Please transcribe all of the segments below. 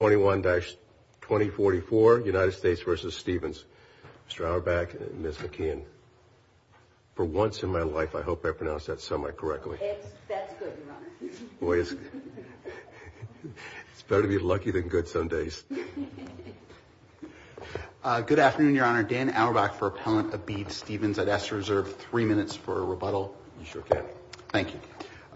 21-2044, United States v. Stevens, Mr. Auerbach and Ms. McKeon. For once in my life, I hope I pronounced that semi-correctly. That's good, Your Honor. Boy, it's better to be lucky than good some days. Good afternoon, Your Honor. Dan Auerbach for Appellant Abid Stevens. I'd ask to reserve three minutes for a rebuttal. You sure can. Thank you.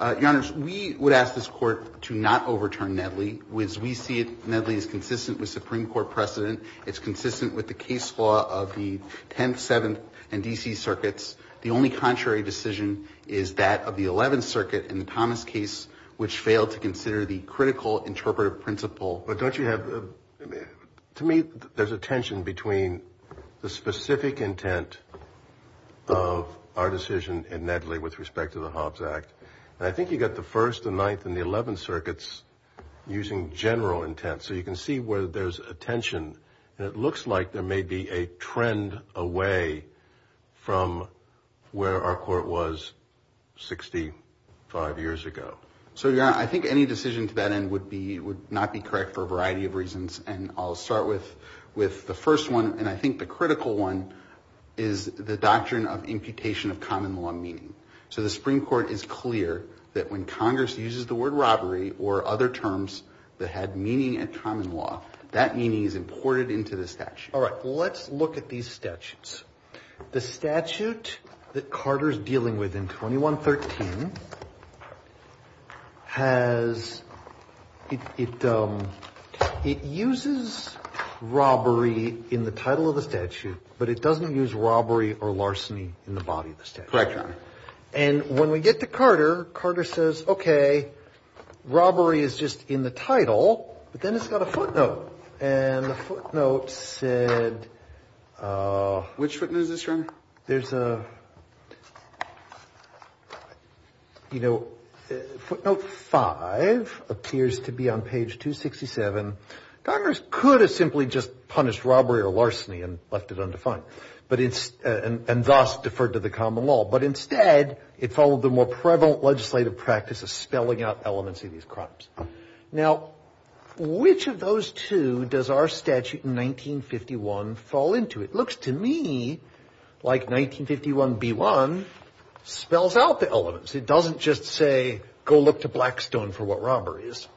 Your Honors, we would ask this Court to not overturn Nedley. As we see it, Nedley is consistent with Supreme Court precedent. It's consistent with the case law of the 10th, 7th, and D.C. circuits. The only contrary decision is that of the 11th circuit in the Thomas case, which failed to consider the critical interpretive principle. But don't you have... To me, there's a tension between the specific intent of our decision in Nedley with respect to the Hobbs Act. I think you got the 1st, the 9th, and the 11th circuits using general intent, so you can see where there's a tension. It looks like there may be a trend away from where our Court was 65 years ago. So, Your Honor, I think any decision to that end would not be correct for a variety of reasons, and I'll start with the first one, and I think the critical one is the doctrine of imputation of common law meaning. So the Supreme Court is clear that when Congress uses the word robbery or other terms that had meaning in common law, that meaning is imported into the statute. All right, let's look at these statutes. The statute that Carter's dealing with in 2113 has... It uses robbery in the title of the statute, but it doesn't use robbery or larceny in the body of the statute. Correct, Your Honor. And when we get to Carter, Carter says, okay, robbery is just in the title, but then it's got a footnote, and the footnote said... Which footnote is this, Your Honor? There's a... You know, footnote 5 appears to be on page 267. Congress could have simply just punished robbery or larceny and left it undefined, and thus deferred to the common law, but instead it followed the more prevalent legislative practice of spelling out elements of these crimes. Now which of those two does our statute in 1951 fall into? It looks to me like 1951b1 spells out the elements. It doesn't just say, go look to Blackstone for what robbery is.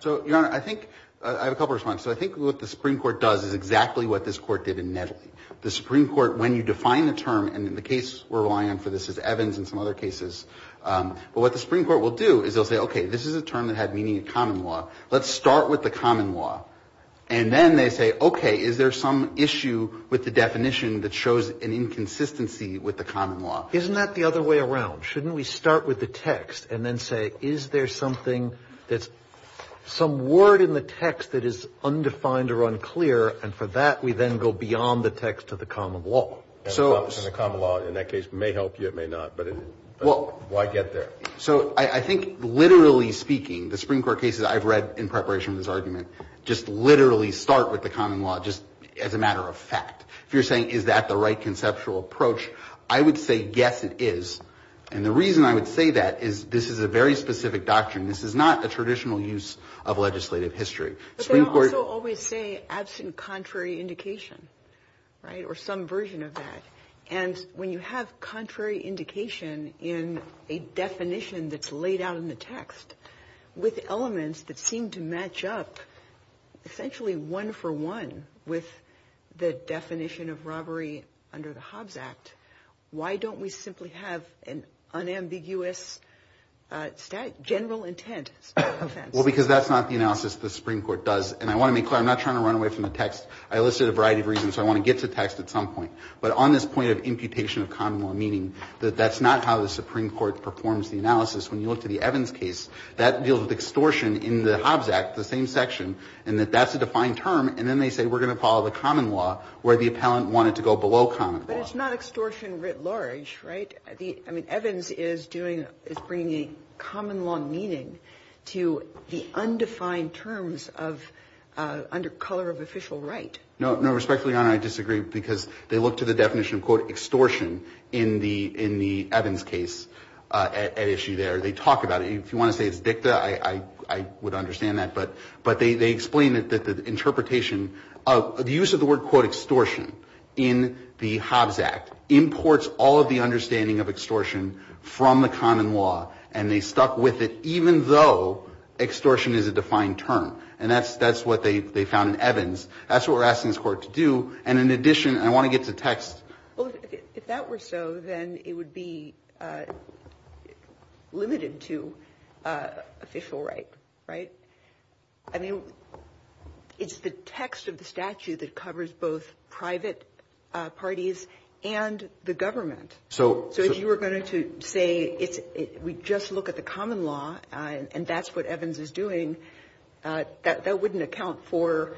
So Your Honor, I think... I have a couple of responses. So I think what the Supreme Court does is exactly what this court did in Nettley. The Supreme Court, when you define a term, and the case we're relying on for this is Evans and some other cases, but what the Supreme Court will do is they'll say, okay, this is a term that had meaning in common law. Let's start with the common law. And then they say, okay, is there some issue with the definition that shows an inconsistency with the common law? Isn't that the other way around? Shouldn't we start with the text and then say, is there something that's... And the common law in that case may help you, it may not, but why get there? So I think literally speaking, the Supreme Court cases I've read in preparation for this argument, just literally start with the common law just as a matter of fact. If you're saying, is that the right conceptual approach? I would say, yes, it is. And the reason I would say that is this is a very specific doctrine. This is not a traditional use of legislative history. But they also always say absent contrary indication, right? Or some version of that. And when you have contrary indication in a definition that's laid out in the text with elements that seem to match up essentially one for one with the definition of robbery under the Hobbs Act, why don't we simply have an unambiguous general intent? Well, because that's not the analysis the Supreme Court does. And I want to be clear, I'm not trying to run away from the text. I listed a variety of reasons, so I want to get to text at some point. But on this point of imputation of common law meaning, that that's not how the Supreme Court performs the analysis. When you look to the Evans case, that deals with extortion in the Hobbs Act, the same section, and that that's a defined term. And then they say, we're going to follow the common law where the appellant wanted to go below common law. But it's not extortion writ large, right? I mean, Evans is bringing common law meaning to the undefined terms under color of official right. No, respectfully, Your Honor, I disagree. Because they look to the definition of, quote, extortion in the Evans case at issue there. They talk about it. If you want to say it's dicta, I would understand that. But they explain that the interpretation of the use of the word, quote, extortion in the Hobbs Act, is a defined term. And that's what they found in Evans. That's what we're asking this Court to do. And in addition, I want to get to text. Well, if that were so, then it would be limited to official right, right? I mean, it's the text of the statute that covers both private parties and the government. So if you were going to say we just look at the common law, and that's what Evans is doing, that wouldn't account for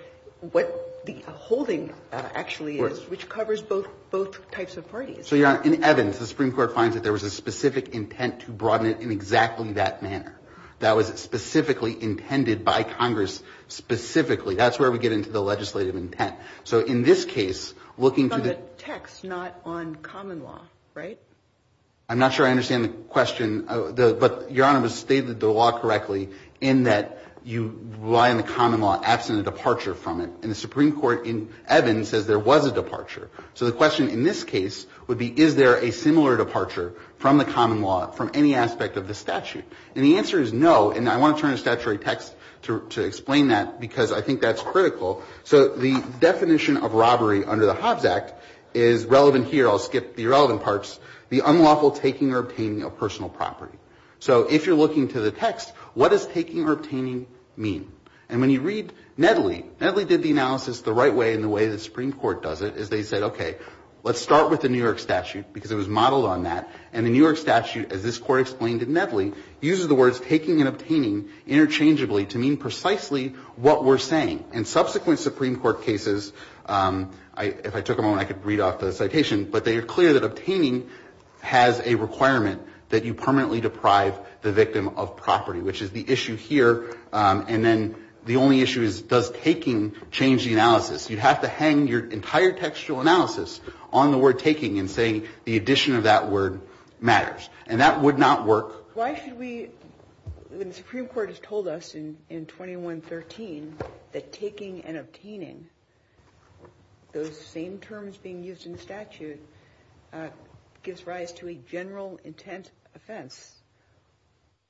what the holding actually is, which covers both types of parties. So, Your Honor, in Evans, the Supreme Court finds that there was a specific intent to broaden it in exactly that manner. That was specifically intended by Congress specifically. That's where we get into the legislative intent. So in this case, looking to the text. That's not on common law, right? I'm not sure I understand the question, but, Your Honor, it was stated in the law correctly, in that you rely on the common law absent a departure from it. And the Supreme Court in Evans says there was a departure. So the question in this case would be, is there a similar departure from the common law from any aspect of the statute? And the answer is no. And I want to turn to statutory text to explain that, because I think that's critical. So the definition of robbery under the Hobbs Act is relevant here. I'll skip the irrelevant parts. The unlawful taking or obtaining of personal property. So if you're looking to the text, what does taking or obtaining mean? And when you read Nedley, Nedley did the analysis the right way and the way the Supreme Court does it, is they said, okay, let's start with the New York statute, because it was modeled on that. And the New York statute, as this Court explained in Nedley, uses the words taking and obtaining interchangeably to mean precisely what we're saying. In subsequent Supreme Court cases, if I took a moment I could read off the citation, but they are clear that obtaining has a requirement that you permanently deprive the victim of property, which is the issue here. And then the only issue is, does taking change the analysis? You have to hang your entire textual analysis on the word taking and saying the addition of that word matters. And that would not work. Why should we, when the Supreme Court has told us in 2113 that taking and obtaining, those same terms being used in the statute, gives rise to a general intent offense,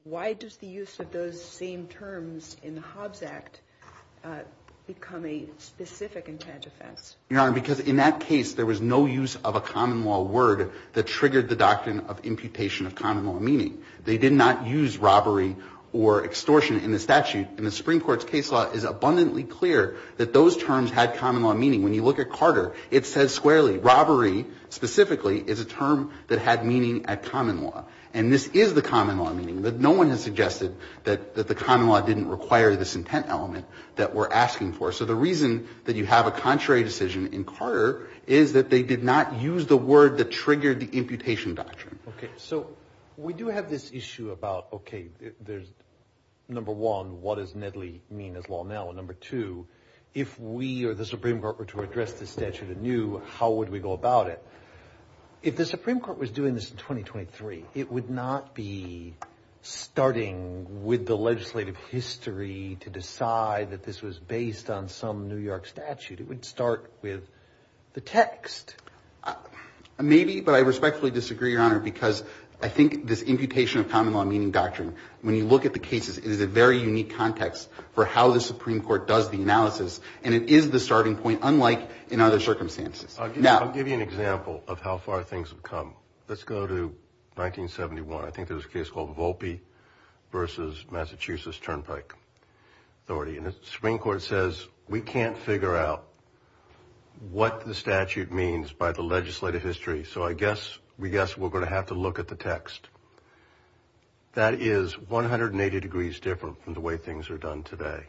why does the use of those same terms in the Hobbs Act become a specific intent offense? Your Honor, because in that case there was no use of a common law word that triggered the doctrine of imputation of common law meaning. They did not use robbery or extortion in the statute. In the Supreme Court's case law, it is abundantly clear that those terms had common law meaning. When you look at Carter, it says squarely, robbery specifically is a term that had meaning at common law. And this is the common law meaning, but no one has suggested that the common law didn't require this intent element that we're asking for. So the reason that you have a contrary decision in Carter is that they did not use the word that triggered the imputation doctrine. Okay. So we do have this issue about, okay, there's number one, what does Nedley mean as law now? And number two, if we or the Supreme Court were to address the statute anew, how would we go about it? If the Supreme Court was doing this in 2023, it would not be starting with the legislative history to decide that this was based on some New York statute. It would start with the text. Maybe, but I respectfully disagree, Your Honor, because I think this imputation of common law meaning doctrine, when you look at the cases, is a very unique context for how the Supreme Court does the analysis. And it is the starting point, unlike in other circumstances. I'll give you an example of how far things have come. Let's go to 1971. I think there was a case called Volpe versus Massachusetts Turnpike Authority. And the Supreme Court says, we can't figure out what the statute means by the legislative history, so I guess, we guess we're going to have to look at the text. That is 180 degrees different from the way things are done today.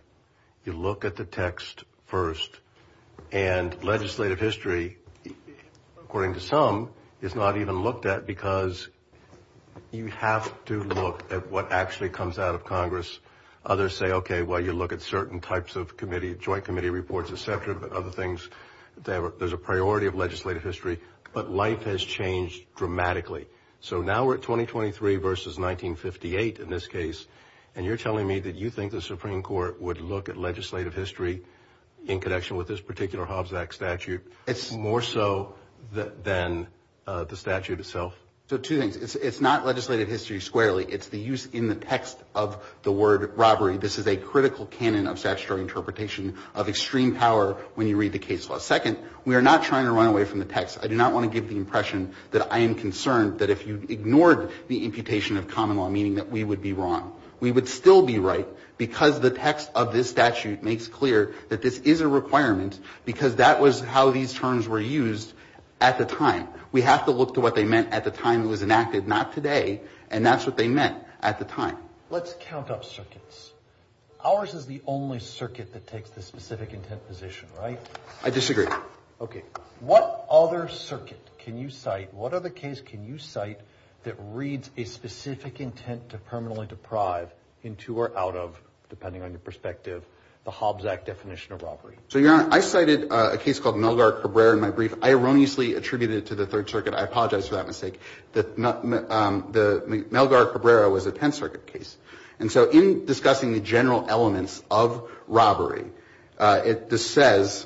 You look at the text first, and legislative history, according to some, is not even looked at because you have to look at what actually comes out of Congress. Others say, okay, well, you look at certain types of committee, joint committee reports, et cetera, but other things. There's a priority of legislative history, but life has changed dramatically. So now we're at 2023 versus 1958, in this case, and you're telling me that you think the Supreme Court would look at legislative history in connection with this particular Hobbs Act statute more so than the statute itself? So, two things. It's not legislative history squarely. It's the use in the text of the word robbery. This is a critical canon of statutory interpretation of extreme power when you read the cases. Second, we are not trying to run away from the text. I do not want to give the impression that I am concerned that if you ignored the imputation of common law, meaning that we would be wrong. We would still be right because the text of this statute makes clear that this is a requirement because that was how these terms were used at the time. We have to look to what they meant at the time it was enacted, not today, and that's what they meant at the time. Let's count up circuits. Ours is the only circuit that takes the specific intent position, right? I disagree. Okay. What other circuit can you cite? What other case can you cite that reads a specific intent to permanently deprive into or out of, depending on your perspective, the Hobbs Act definition of robbery? So, Your Honor, I cited a case called Melgar Cabrera in my brief. I erroneously attributed it to the Third Circuit. I apologize for that mistake. The Melgar Cabrera was a Tenth Circuit case. And so in discussing the general elements of robbery, it says,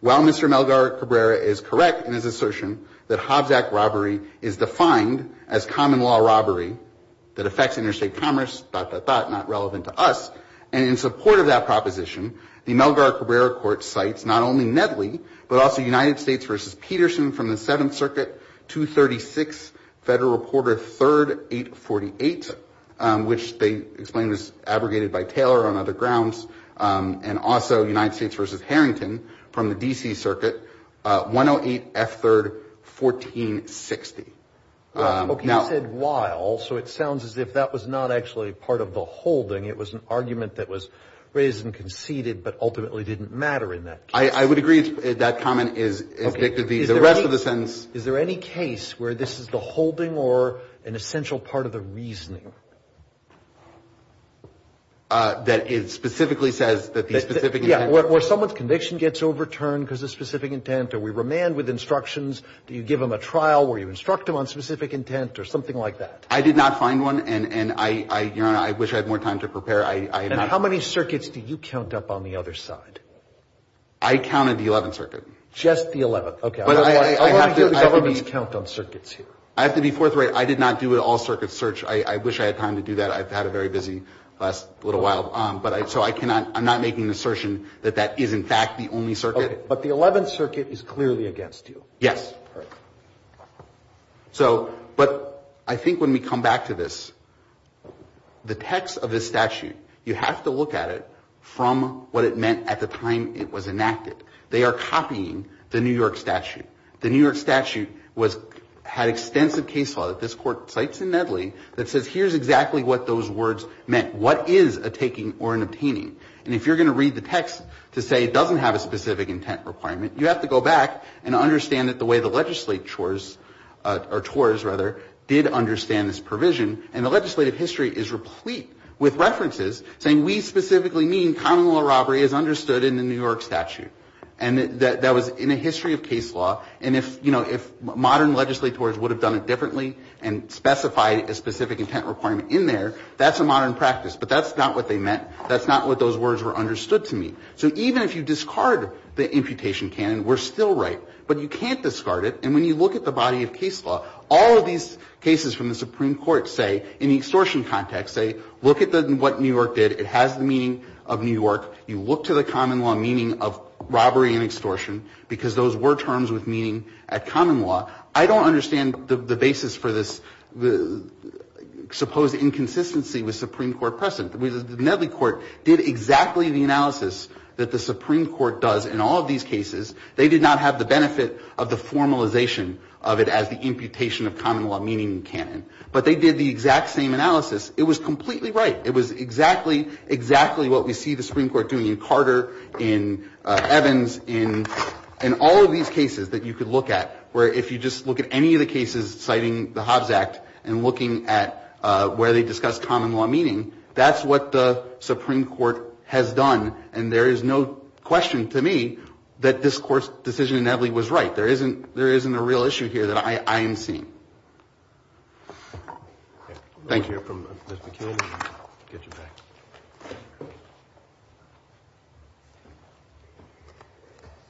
while Mr. Melgar Cabrera is correct in his assertion that Hobbs Act robbery is defined as common law robbery that affects interstate commerce, dot, dot, dot, not relevant to us, and in support of that proposition, the Melgar Cabrera court cites not only Nedley, but also United States v. Peterson from the Seventh Circuit, 236 Federal Reporter 3rd, 848, which they explained was abrogated by Taylor on other grounds. And also United States v. Harrington from the D.C. Circuit, 108 F. 3rd, 1460. Okay, you said while, so it sounds as if that was not actually part of the holding. It was an argument that was raised and conceded, but ultimately didn't matter in that case. I would agree that comment is dictative of the rest of the sentence. Is there any case where this is the holding or an essential part of the reasoning? That it specifically says that the specific intent. Yeah, where someone's conviction gets overturned because of specific intent, or we remand with instructions, do you give them a trial, or you instruct them on specific intent, or something like that? I did not find one, and, Your Honor, I wish I had more time to prepare. And how many circuits do you count up on the other side? I counted the 11th Circuit. Just the 11th. Okay. I want to hear the government's count on circuits here. I have to be forthright. I did not do an all-circuit search. I wish I had time to do that. I've had a very busy last little while. But I, so I cannot, I'm not making an assertion that that is, in fact, the only circuit. Okay. But the 11th Circuit is clearly against you. Yes. All right. So, but I think when we come back to this, the text of this statute, you have to look at it from what it meant at the time it was enacted. They are copying the New York statute. The New York statute was, had extensive case law that this Court cites in Nedley that says, here's exactly what those words meant. What is a taking or an obtaining? And if you're going to read the text to say it doesn't have a specific intent requirement, you have to go back and understand that the way the legislatures, or TORs, rather, did understand this provision. And the legislative history is replete with references saying we specifically mean common law robbery is understood in the New York statute. And that was in a history of case law. And if, you know, if modern legislators would have done it differently and specified a specific intent requirement in there, that's a modern practice. But that's not what they meant. That's not what those words were understood to mean. So even if you discard the imputation canon, we're still right. But you can't discard it. And when you look at the body of case law, all of these cases from the Supreme Court, say, in the extortion context, say, look at what New York did. It has the meaning of New York. You look to the common law meaning of robbery and extortion, because those were terms with meaning at common law. I don't understand the basis for this supposed inconsistency with Supreme Court precedent. The Nedley court did exactly the analysis that the Supreme Court does in all of these cases. They did not have the benefit of the formalization of it as the imputation of common law meaning canon. But they did the exact same analysis. It was completely right. It was exactly, exactly what we see the Supreme Court doing in Carter, in Evans, in all of these cases that you could look at. Where if you just look at any of the cases citing the Hobbs Act and looking at where they discussed common law meaning, that's what the Supreme Court has done. And there is no question to me that this court's decision in Nedley was right. There isn't a real issue here that I am seeing. Thank you. I'll let you hear from Ms. McKeon and get you back.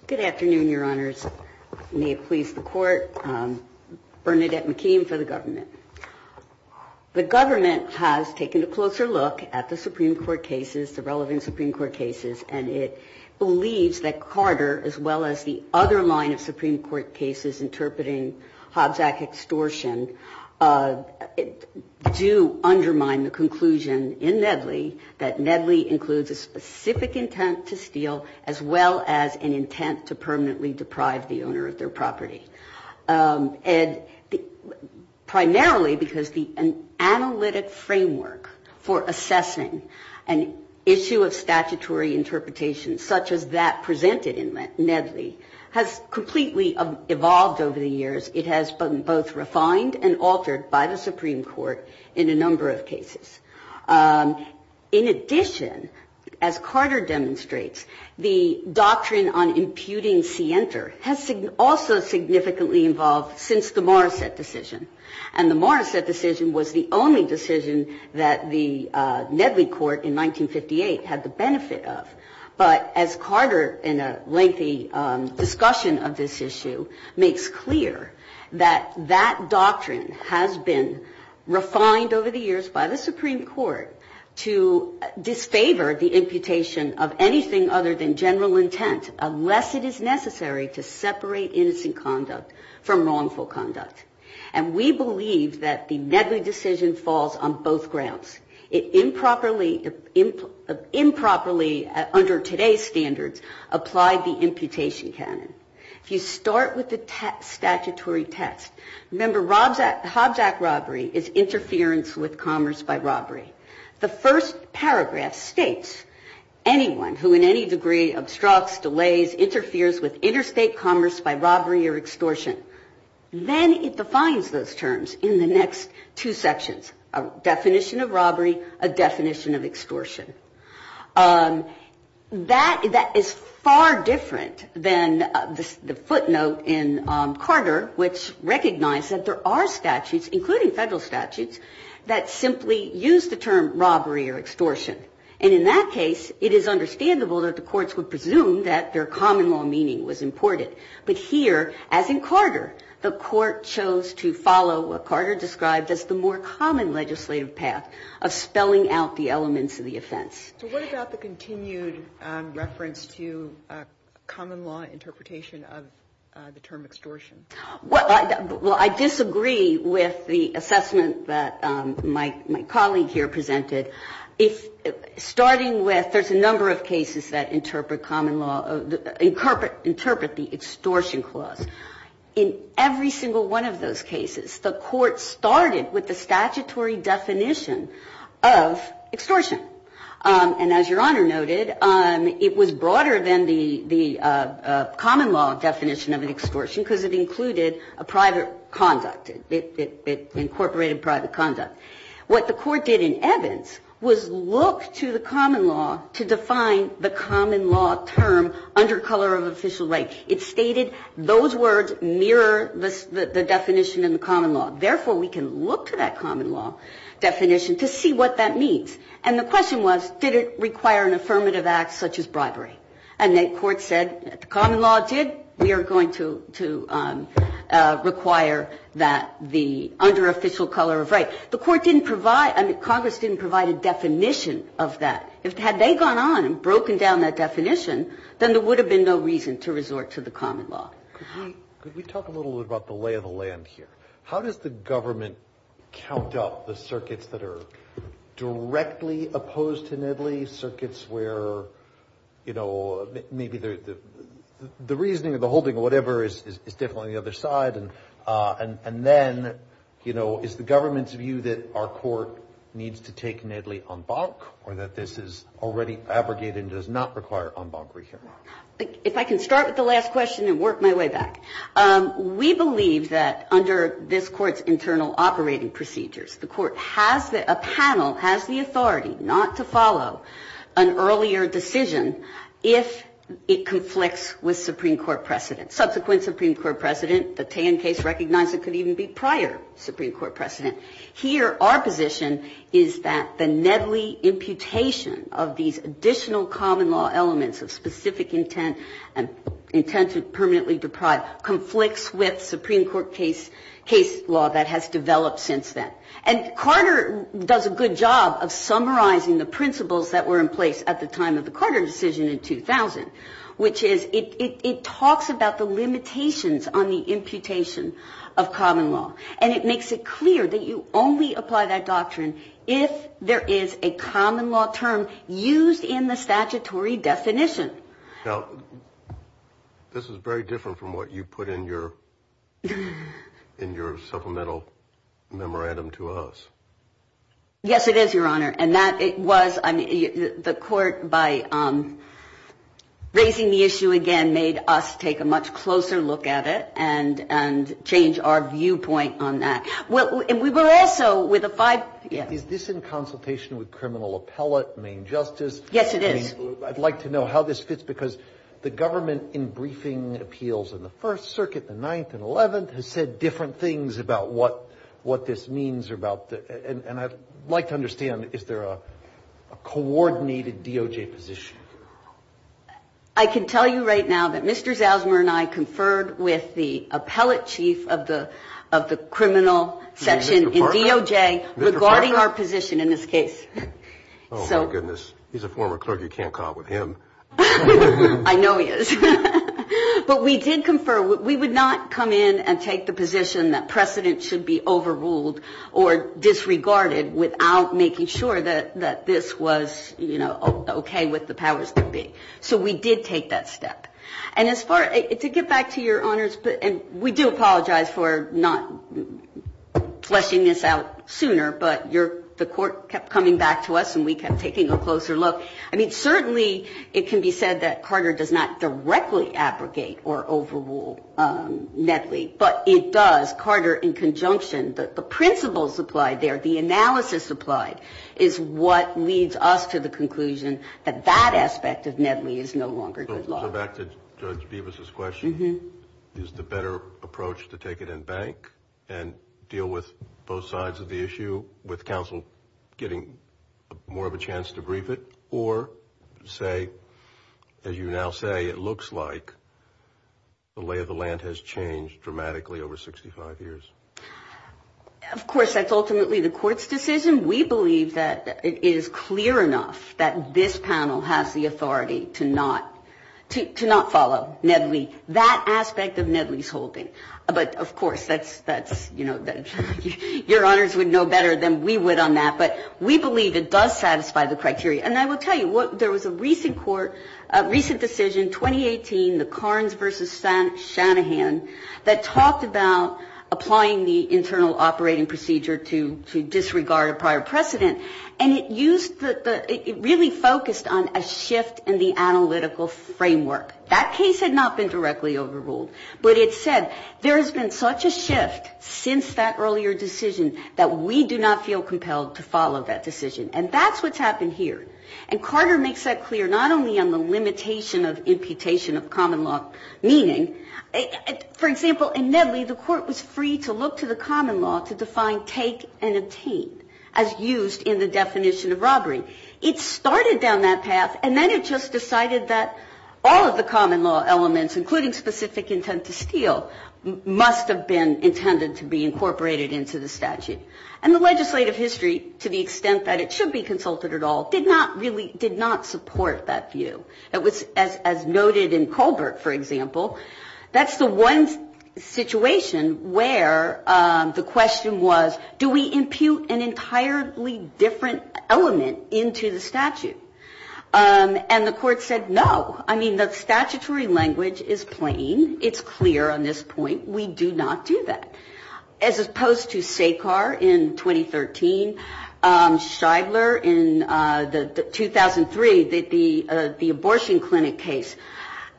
Good afternoon, your honors. May it please the court. Bernadette McKeon for the government. The government has taken a closer look at the Supreme Court cases, the relevant Supreme Court cases. And it believes that Carter, as well as the other line of Supreme Court cases interpreting Hobbs Act extortion, do undermine the conclusion in Nedley. That Nedley includes a specific intent to steal, as well as an intent to permanently deprive the owner of their property. And primarily because the analytic framework for assessing an issue of statutory interpretation, such as that presented in the last over the years, it has been both refined and altered by the Supreme Court in a number of cases. In addition, as Carter demonstrates, the doctrine on imputing scienter has also significantly involved since the Morrissette decision. And the Morrissette decision was the only decision that the Nedley court in 1958 had the benefit of, but as Carter in a lengthy discussion of this issue makes clear that that doctrine has been refined over the years by the Supreme Court to disfavor the imputation of anything other than general intent, unless it is necessary to separate innocent conduct from wrongful conduct. And we believe that the Nedley decision falls on both grounds. It improperly, under today's standards, applied the imputation canon. If you start with the statutory test, remember Hobjack robbery is interference with commerce by robbery. The first paragraph states, anyone who in any degree obstructs, delays, interferes with interstate commerce by robbery or extortion. Then it defines those terms in the next two sections, a definition of robbery, a definition of extortion. That is far different than the footnote in Carter, which recognized that there are statutes, including federal statutes, that simply use the term robbery or extortion. And in that case, it is understandable that the courts would presume that their common law meaning was important. But here, as in Carter, the court chose to follow what Carter described as the more common legislative path of spelling out the elements of the offense. So what about the continued reference to common law interpretation of the term extortion? Well, I disagree with the assessment that my colleague here presented. If, starting with, there's a number of cases that interpret common law, interpret the extortion clause. In every single one of those cases, the court started with the statutory definition of extortion. And as Your Honor noted, it was broader than the common law definition of an extortion, because it included a private conduct, it incorporated private conduct. What the court did in Evans was look to the common law to define the common law term under color of official right. It stated those words mirror the definition in the common law. Therefore, we can look to that common law definition to see what that means. And the question was, did it require an affirmative act such as bribery? And the court said, the common law did. We are going to require that the under official color of right. The court didn't provide, I mean, Congress didn't provide a definition of that. If had they gone on and broken down that definition, then there would have been no reason to resort to the common law. Could we talk a little bit about the lay of the land here? How does the government count up the circuits that are directly opposed to Nedley? Circuits where maybe the reasoning or the holding or whatever is definitely on the other side. And then, is the government's view that our court needs to take Nedley en banc, or that this is already abrogated and does not require en banc rehearing? If I can start with the last question and work my way back. We believe that under this court's internal operating procedures, the court has a panel, has the authority not to follow an earlier decision if it conflicts with Supreme Court precedent. Subsequent Supreme Court precedent, the Tann case recognized it could even be prior Supreme Court precedent. Here, our position is that the Nedley imputation of these additional common law elements of specific intent and intent to permanently deprive conflicts with Supreme Court case law that has developed since then. And Carter does a good job of summarizing the principles that were in place at the time of the Carter decision in 2000, which is it talks about the limitations on the imputation of common law. And it makes it clear that you only apply that doctrine if there is a common law term used in the statutory definition. Now, this is very different from what you put in your supplemental memorandum to us. Yes, it is, Your Honor. And that it was, I mean, the court by raising the issue again made us take a much closer look at it and change our viewpoint on that. Well, and we were also with a five, yeah. Is this in consultation with criminal appellate, main justice? Yes, it is. I'd like to know how this fits because the government in briefing appeals in the First Circuit, the 9th and 11th, has said different things about what this means about. And I'd like to understand, is there a coordinated DOJ position? I can tell you right now that Mr. Zosmer and I conferred with the appellate chief of the criminal section in DOJ regarding our position in this case. Oh, my goodness. He's a former clerk. You can't call it with him. I know he is. But we did confer. We would not come in and take the position that precedent should be overruled or disregarded without making sure that this was, you know, okay with the powers that be. So we did take that step. And as far, to get back to your honors, and we do apologize for not fleshing this out sooner, but the court kept coming back to us and we kept taking a closer look. I mean, certainly it can be said that Carter does not directly abrogate or overrule Nedley. But it does, Carter in conjunction, the principles applied there, the analysis applied is what leads us to the conclusion that that aspect of Nedley is no longer good law. So back to Judge Bevis' question, is the better approach to take it in bank and deal with both sides of the issue with counsel getting more of a chance to brief it? Or say, as you now say, it looks like the lay of the land has changed dramatically over 65 years? Of course, that's ultimately the court's decision. We believe that it is clear enough that this panel has the authority to not follow Nedley. That aspect of Nedley's holding. But of course, that's, you know, your honors would know better than we would on that. But we believe it does satisfy the criteria. And I will tell you, there was a recent court, recent decision, 2018, the Carnes versus Shanahan, that talked about applying the internal operating procedure to disregard a prior precedent. And it used the, it really focused on a shift in the analytical framework. That case had not been directly overruled. But it said, there has been such a shift since that earlier decision that we do not feel compelled to follow that decision. And that's what's happened here. And Carter makes that clear, not only on the limitation of imputation of common law meaning. For example, in Nedley, the court was free to look to the common law to define take and obtain, as used in the definition of robbery. It started down that path, and then it just decided that all of the common law elements, including specific intent to steal, must have been intended to be incorporated into the statute. And the legislative history, to the extent that it should be consulted at all, did not really, did not support that view. It was, as noted in Colbert, for example, that's the one situation where the question was, do we impute an entirely different element into the statute? And the court said, no. I mean, the statutory language is plain. It's clear on this point. We do not do that. As opposed to Sekar in 2013, Shidler in 2003, the abortion clinic case,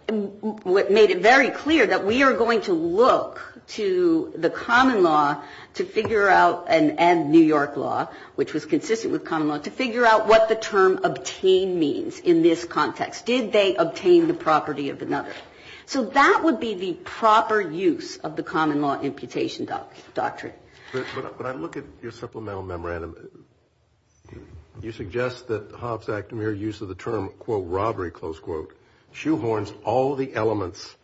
made it very clear that we are going to look to the common law to figure out, and New York law, which was consistent with common law, to figure out what the term obtain means in this context. Did they obtain the property of another? So that would be the proper use of the common law imputation doctrine. But when I look at your supplemental memorandum, you suggest that Hobbs-Achtemir use of the term, quote, robbery, close quote, shoehorns all the elements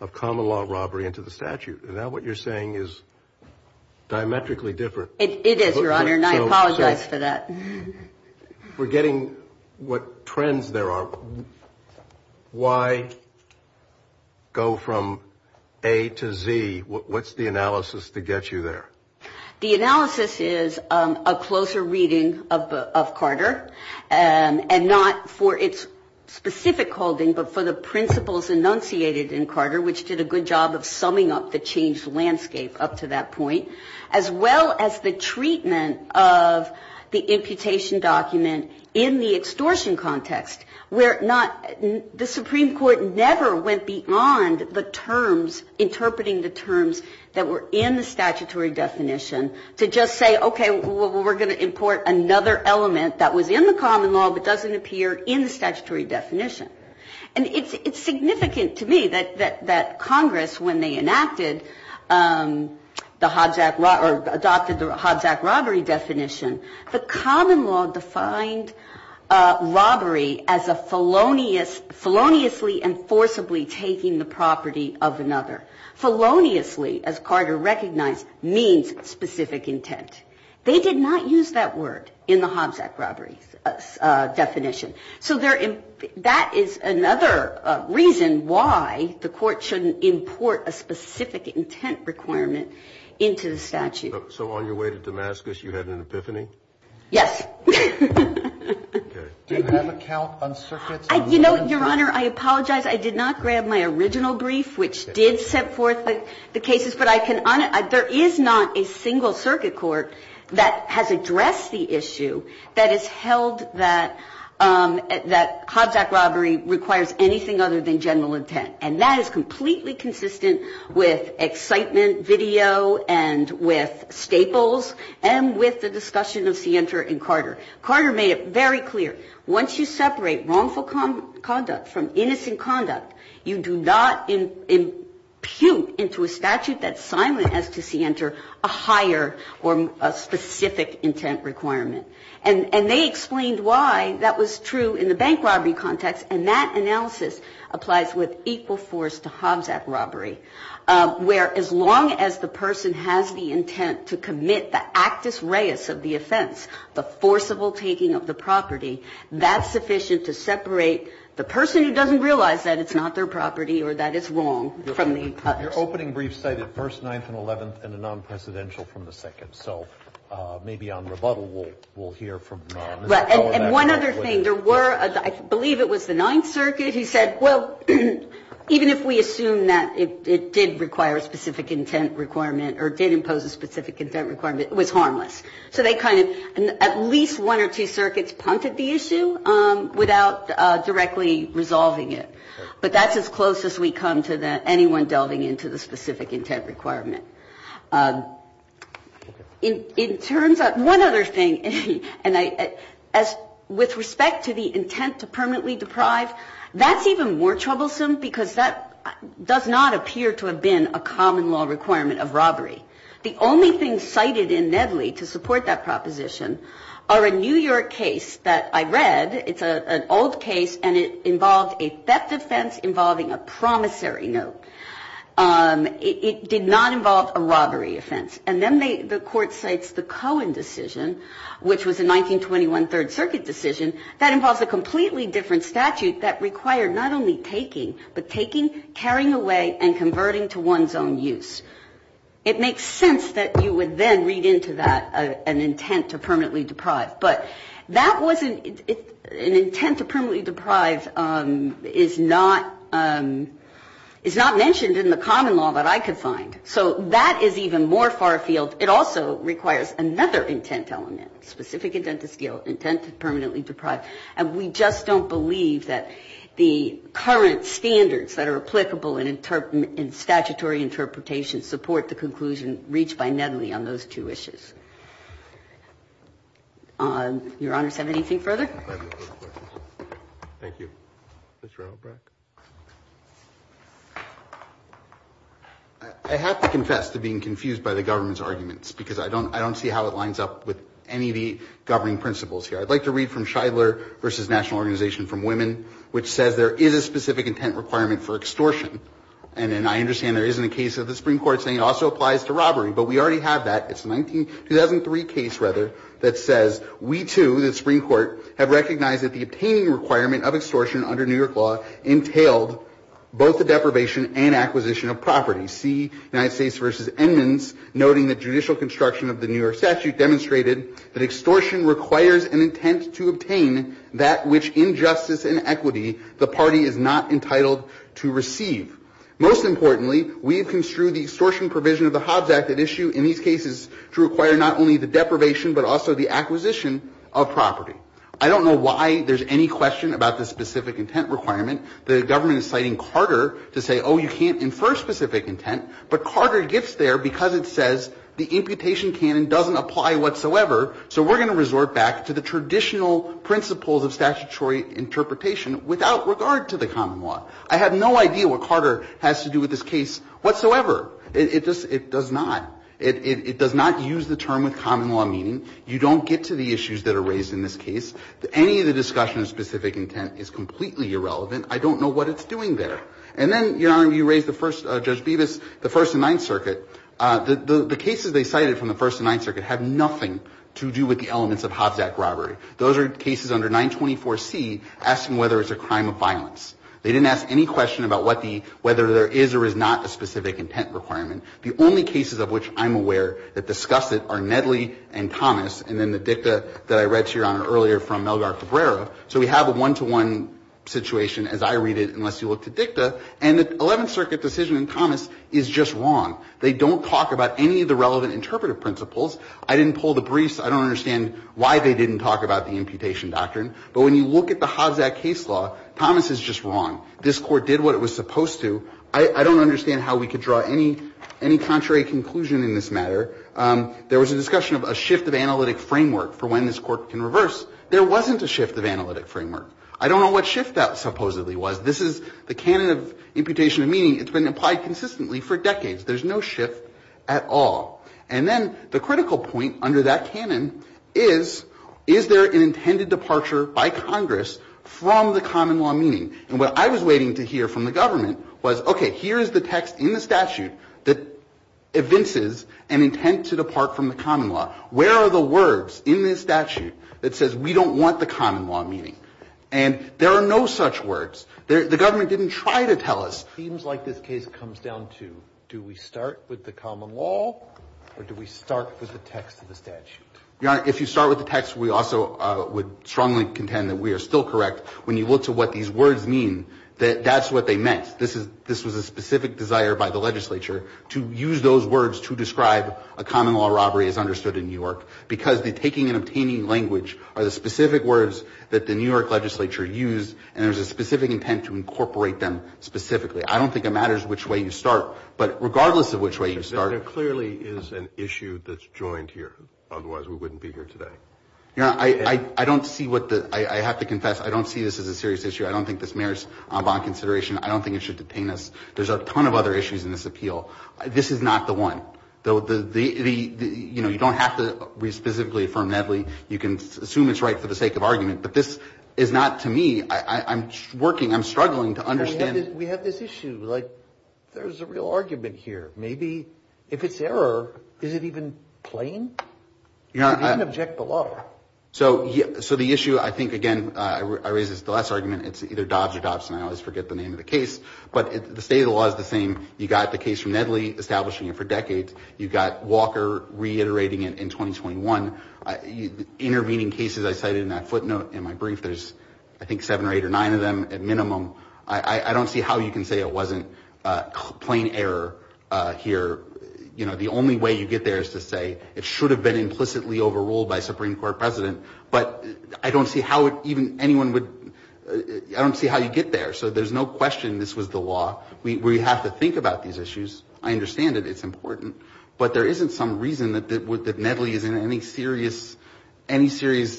of common law robbery into the statute. And now what you're saying is diametrically different. It is, Your Honor, and I apologize for that. We're getting what trends there are. So why go from A to Z? What's the analysis to get you there? The analysis is a closer reading of Carter, and not for its specific holding, but for the principles enunciated in Carter, which did a good job of summing up the changed landscape up to that point, as well as the treatment of the imputation document in the extortion context, where not the Supreme Court never went beyond the terms, interpreting the terms that were in the statutory definition, to just say, okay, we're going to import another element that was in the common law, but doesn't appear in the statutory definition. And it's significant to me that Congress, when they enacted the Hobbs-Act robbery definition, the common law defined robbery as a feloniously and forcibly taking the property of another. Feloniously, as Carter recognized, means specific intent. They did not use that word in the Hobbs-Act robbery definition. So that is another reason why the court shouldn't import a specific intent requirement into the statute. So on your way to Damascus, you had an epiphany? Yes. Do you have a count on circuits? You know, Your Honor, I apologize. I did not grab my original brief, which did set forth the cases. But I can, there is not a single circuit court that has addressed the issue that has held that Hobbs-Act robbery requires anything other than general intent. And that is completely consistent with excitement video and with staples and with the discussion of Sienter and Carter. Carter made it very clear. Once you separate wrongful conduct from innocent conduct, you do not impute into a statute that's silent as to Sienter a higher or a specific intent requirement. And they explained why that was true in the bank robbery context. And that analysis applies with equal force to Hobbs-Act robbery, where as long as the person has the intent to commit the actus reus of the offense, the forcible taking of the property, that's sufficient to separate the person who doesn't realize that it's not their property or that it's wrong from the others. Your opening brief cited first, ninth, and eleventh, and a non-presidential from the second. So maybe on rebuttal, we'll hear from Ms. McCullough about that. And one other thing, there were, I believe it was the ninth circuit, who said, well, even if we assume that it did require a specific intent requirement or did impose a specific intent requirement, it was harmless. So they kind of, at least one or two circuits punted the issue without directly resolving it. But that's as close as we come to anyone delving into the specific intent requirement. In terms of, one other thing, and I, as, with respect to the intent to permanently deprive, that's even more troublesome because that does not appear to have been a common law requirement of robbery. The only thing cited in Nedley to support that proposition are a New York case that I read. It's an old case, and it involved a theft offense involving a promissory note. It did not involve a robbery offense. And then the Court cites the Cohen decision, which was a 1921 Third Circuit decision that involves a completely different statute that required not only taking, but taking, carrying away, and converting to one's own use. It makes sense that you would then read into that an intent to permanently deprive. But that wasn't, an intent to permanently deprive is not, is not mentioned in the common law that I could find. So that is even more far-field. It also requires another intent element, specific intent to permanently deprive. And we just don't believe that the current standards that are applicable in statutory interpretation support the conclusion reached by Nedley on those two issues. Your Honors, have anything further? Thank you. Mr. Obrek? I have to confess to being confused by the government's arguments, because I don't see how it lines up with any of the governing principles here. I'd like to read from Shidler v. National Organization for Women, which says there is a specific intent requirement for extortion. And I understand there isn't a case of the Supreme Court saying it also applies to robbery. But we already have that. It's a 2003 case, rather, that says we too, the Supreme Court, have recognized that the obtaining requirement of extortion under New York law entailed both the deprivation and acquisition of property. See United States v. Edmonds, noting that judicial construction of the New York statute demonstrated that extortion requires an intent to obtain that which injustice and equity the party is not entitled to receive. Most importantly, we have construed the extortion provision of the Hobbs Act at issue in these cases to require not only the deprivation, but also the acquisition of property. I don't know why there's any question about the specific intent requirement. The government is citing Carter to say, oh, you can't infer specific intent. But Carter gets there because it says the imputation canon doesn't apply whatsoever. So we're going to resort back to the traditional principles of statutory interpretation without regard to the common law. I have no idea what Carter has to do with this case whatsoever. It does not. It does not use the term with common law meaning. You don't get to the issues that are raised in this case. Any of the discussion of specific intent is completely irrelevant. I don't know what it's doing there. And then, Your Honor, you raised the first, Judge Bevis, the First and Ninth Circuit. The cases they cited from the First and Ninth Circuit have nothing to do with the elements of Hobbs Act robbery. Those are cases under 924C asking whether it's a crime of violence. They didn't ask any question about whether there is or is not a specific intent requirement. The only cases of which I'm aware that discuss it are Nedley and Thomas and then the dicta that I read to Your Honor earlier from Melgar Cabrera. So we have a one-to-one situation, as I read it, unless you look to dicta. And the Eleventh Circuit decision in Thomas is just wrong. They don't talk about any of the relevant interpretive principles. I didn't pull the briefs. I don't understand why they didn't talk about the imputation doctrine. But when you look at the Hobbs Act case law, Thomas is just wrong. This Court did what it was supposed to. I don't understand how we could draw any contrary conclusion in this matter. There was a discussion of a shift of analytic framework for when this Court can reverse. There wasn't a shift of analytic framework. I don't know what shift that supposedly was. This is the canon of imputation of meaning. It's been applied consistently for decades. There's no shift at all. And then the critical point under that canon is, is there an intended departure by Congress from the common law meaning? And what I was waiting to hear from the government was, okay, here is the text in the statute that evinces an intent to depart from the common law. Where are the words in this statute that says we don't want the common law meaning? And there are no such words. The government didn't try to tell us. It seems like this case comes down to, do we start with the common law, or do we start with the text of the statute? Your Honor, if you start with the text, we also would strongly contend that we are still correct. When you look to what these words mean, that's what they meant. This was a specific desire by the legislature to use those words to describe a common law robbery as understood in New York. Because the taking and obtaining language are the specific words that the New York legislature used, and there's a specific intent to incorporate them specifically. I don't think it matters which way you start. But regardless of which way you start... There clearly is an issue that's joined here. Otherwise, we wouldn't be here today. Your Honor, I don't see what the... I have to confess, I don't see this as a serious issue. I don't think this merits on-bond consideration. I don't think it should detain us. There's a ton of other issues in this appeal. This is not the one. You don't have to re-specifically affirm Nedley. You can assume it's right for the sake of argument. But this is not to me. I'm working, I'm struggling to understand... We have this issue. There's a real argument here. Maybe if it's error, is it even plain? You can't object the law. So the issue, I think, again, I raised this in the last argument, it's either Dobbs or Dobson. I always forget the name of the case. But the state of the law is the same. You got the case from Nedley, establishing it for decades. You got Walker reiterating it in 2021. Intervening cases I cited in that footnote in my brief. There's, I think, seven or eight or nine of them at minimum. I don't see how you can say it wasn't plain error here. The only way you get there is to say it should have been implicitly overruled by a Supreme Court president. But I don't see how anyone would... I don't see how you get there. So there's no question this was the law. We have to think about these issues. I understand it. It's important. But there isn't some reason that Nedley is in any serious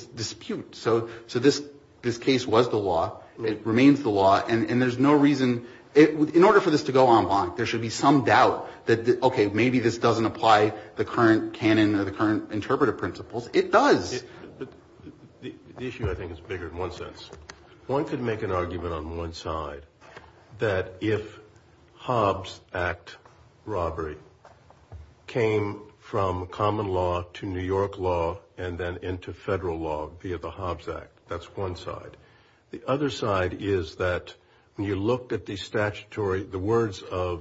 dispute. So this case was the law. It remains the law. And there's no reason... In order for this to go en bloc, there should be some doubt that, OK, maybe this doesn't apply the current canon or the current interpretive principles. It does. The issue, I think, is bigger in one sense. One could make an argument on one side that if Hobbs Act robbery came from common law to New York law and then into federal law it would be at the Hobbs Act. That's one side. The other side is that when you look at the statutory, the words of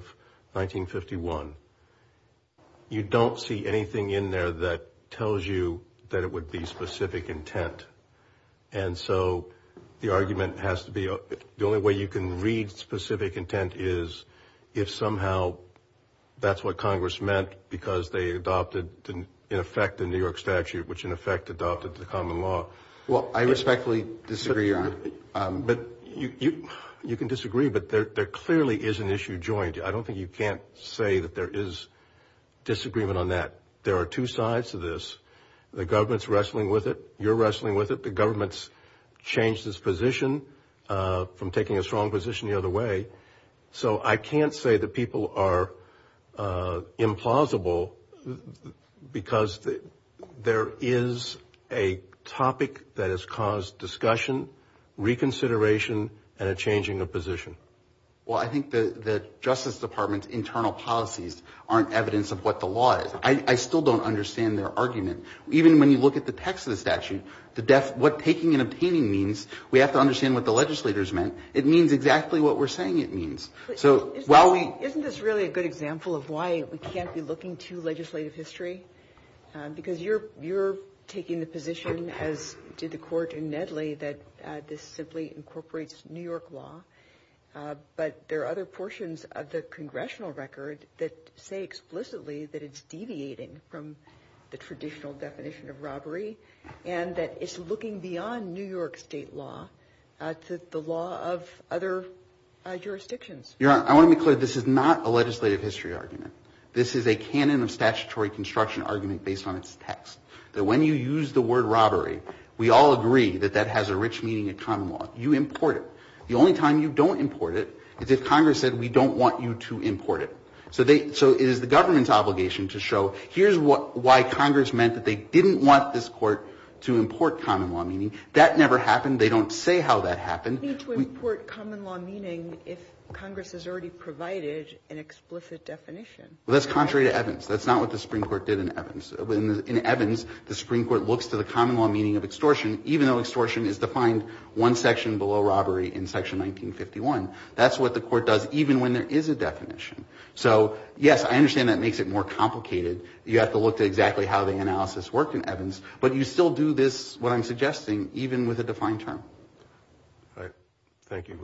1951, you don't see anything in there that tells you that it would be specific intent. And so the argument has to be... The only way you can read specific intent is if somehow that's what Congress meant because they adopted, in effect, the New York statute, which, in effect, adopted the common law. Well, I respectfully disagree, Your Honor. You can disagree, but there clearly is an issue joined. I don't think you can't say that there is disagreement on that. There are two sides to this. The government's wrestling with it. You're wrestling with it. The government's changed its position from taking a strong position the other way. So I can't say that people are implausible because there is a topic that has caused discussion, reconsideration, and a changing of position. Well, I think the Justice Department's internal policies aren't evidence of what the law is. I still don't understand their argument. Even when you look at the text of the statute, what taking and obtaining means, we have to understand what the legislators meant. It means exactly what we're saying it means. Isn't this really a good example of why we can't be looking to legislative history? Because you're taking the position, as did the Court in Nedley, that this simply incorporates New York law. But there are other portions of the congressional record that say explicitly that it's deviating from the traditional definition of robbery and that it's looking beyond New York state law to the law of other jurisdictions. Your Honor, I want to be clear. This is not a legislative history argument. This is a canon of statutory construction argument based on its text. That when you use the word robbery, we all agree that that has a rich meaning in common law. You import it. The only time you don't import it is if Congress said, we don't want you to import it. So it is the government's obligation to show, here's why Congress meant that they didn't want this Court to import common law meaning. That never happened. They don't say how that happened. We need to import common law meaning if Congress has already provided an explicit definition. Well, that's contrary to Evans. That's not what the Supreme Court did in Evans. In Evans, the Supreme Court looks to the common law meaning of extortion even though extortion is defined one section below robbery in section 1951. That's what the Court does even when there is a definition. So, yes, I understand that makes it more complicated. You have to look at exactly how the analysis worked in Evans, but you still do this, what I'm suggesting, even with a defined term. Thank you.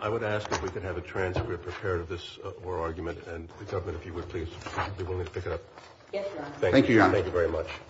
I would ask if we could have a transcript prepared of this war argument and the government, if you would, please be willing to pick it up. Thank you very much.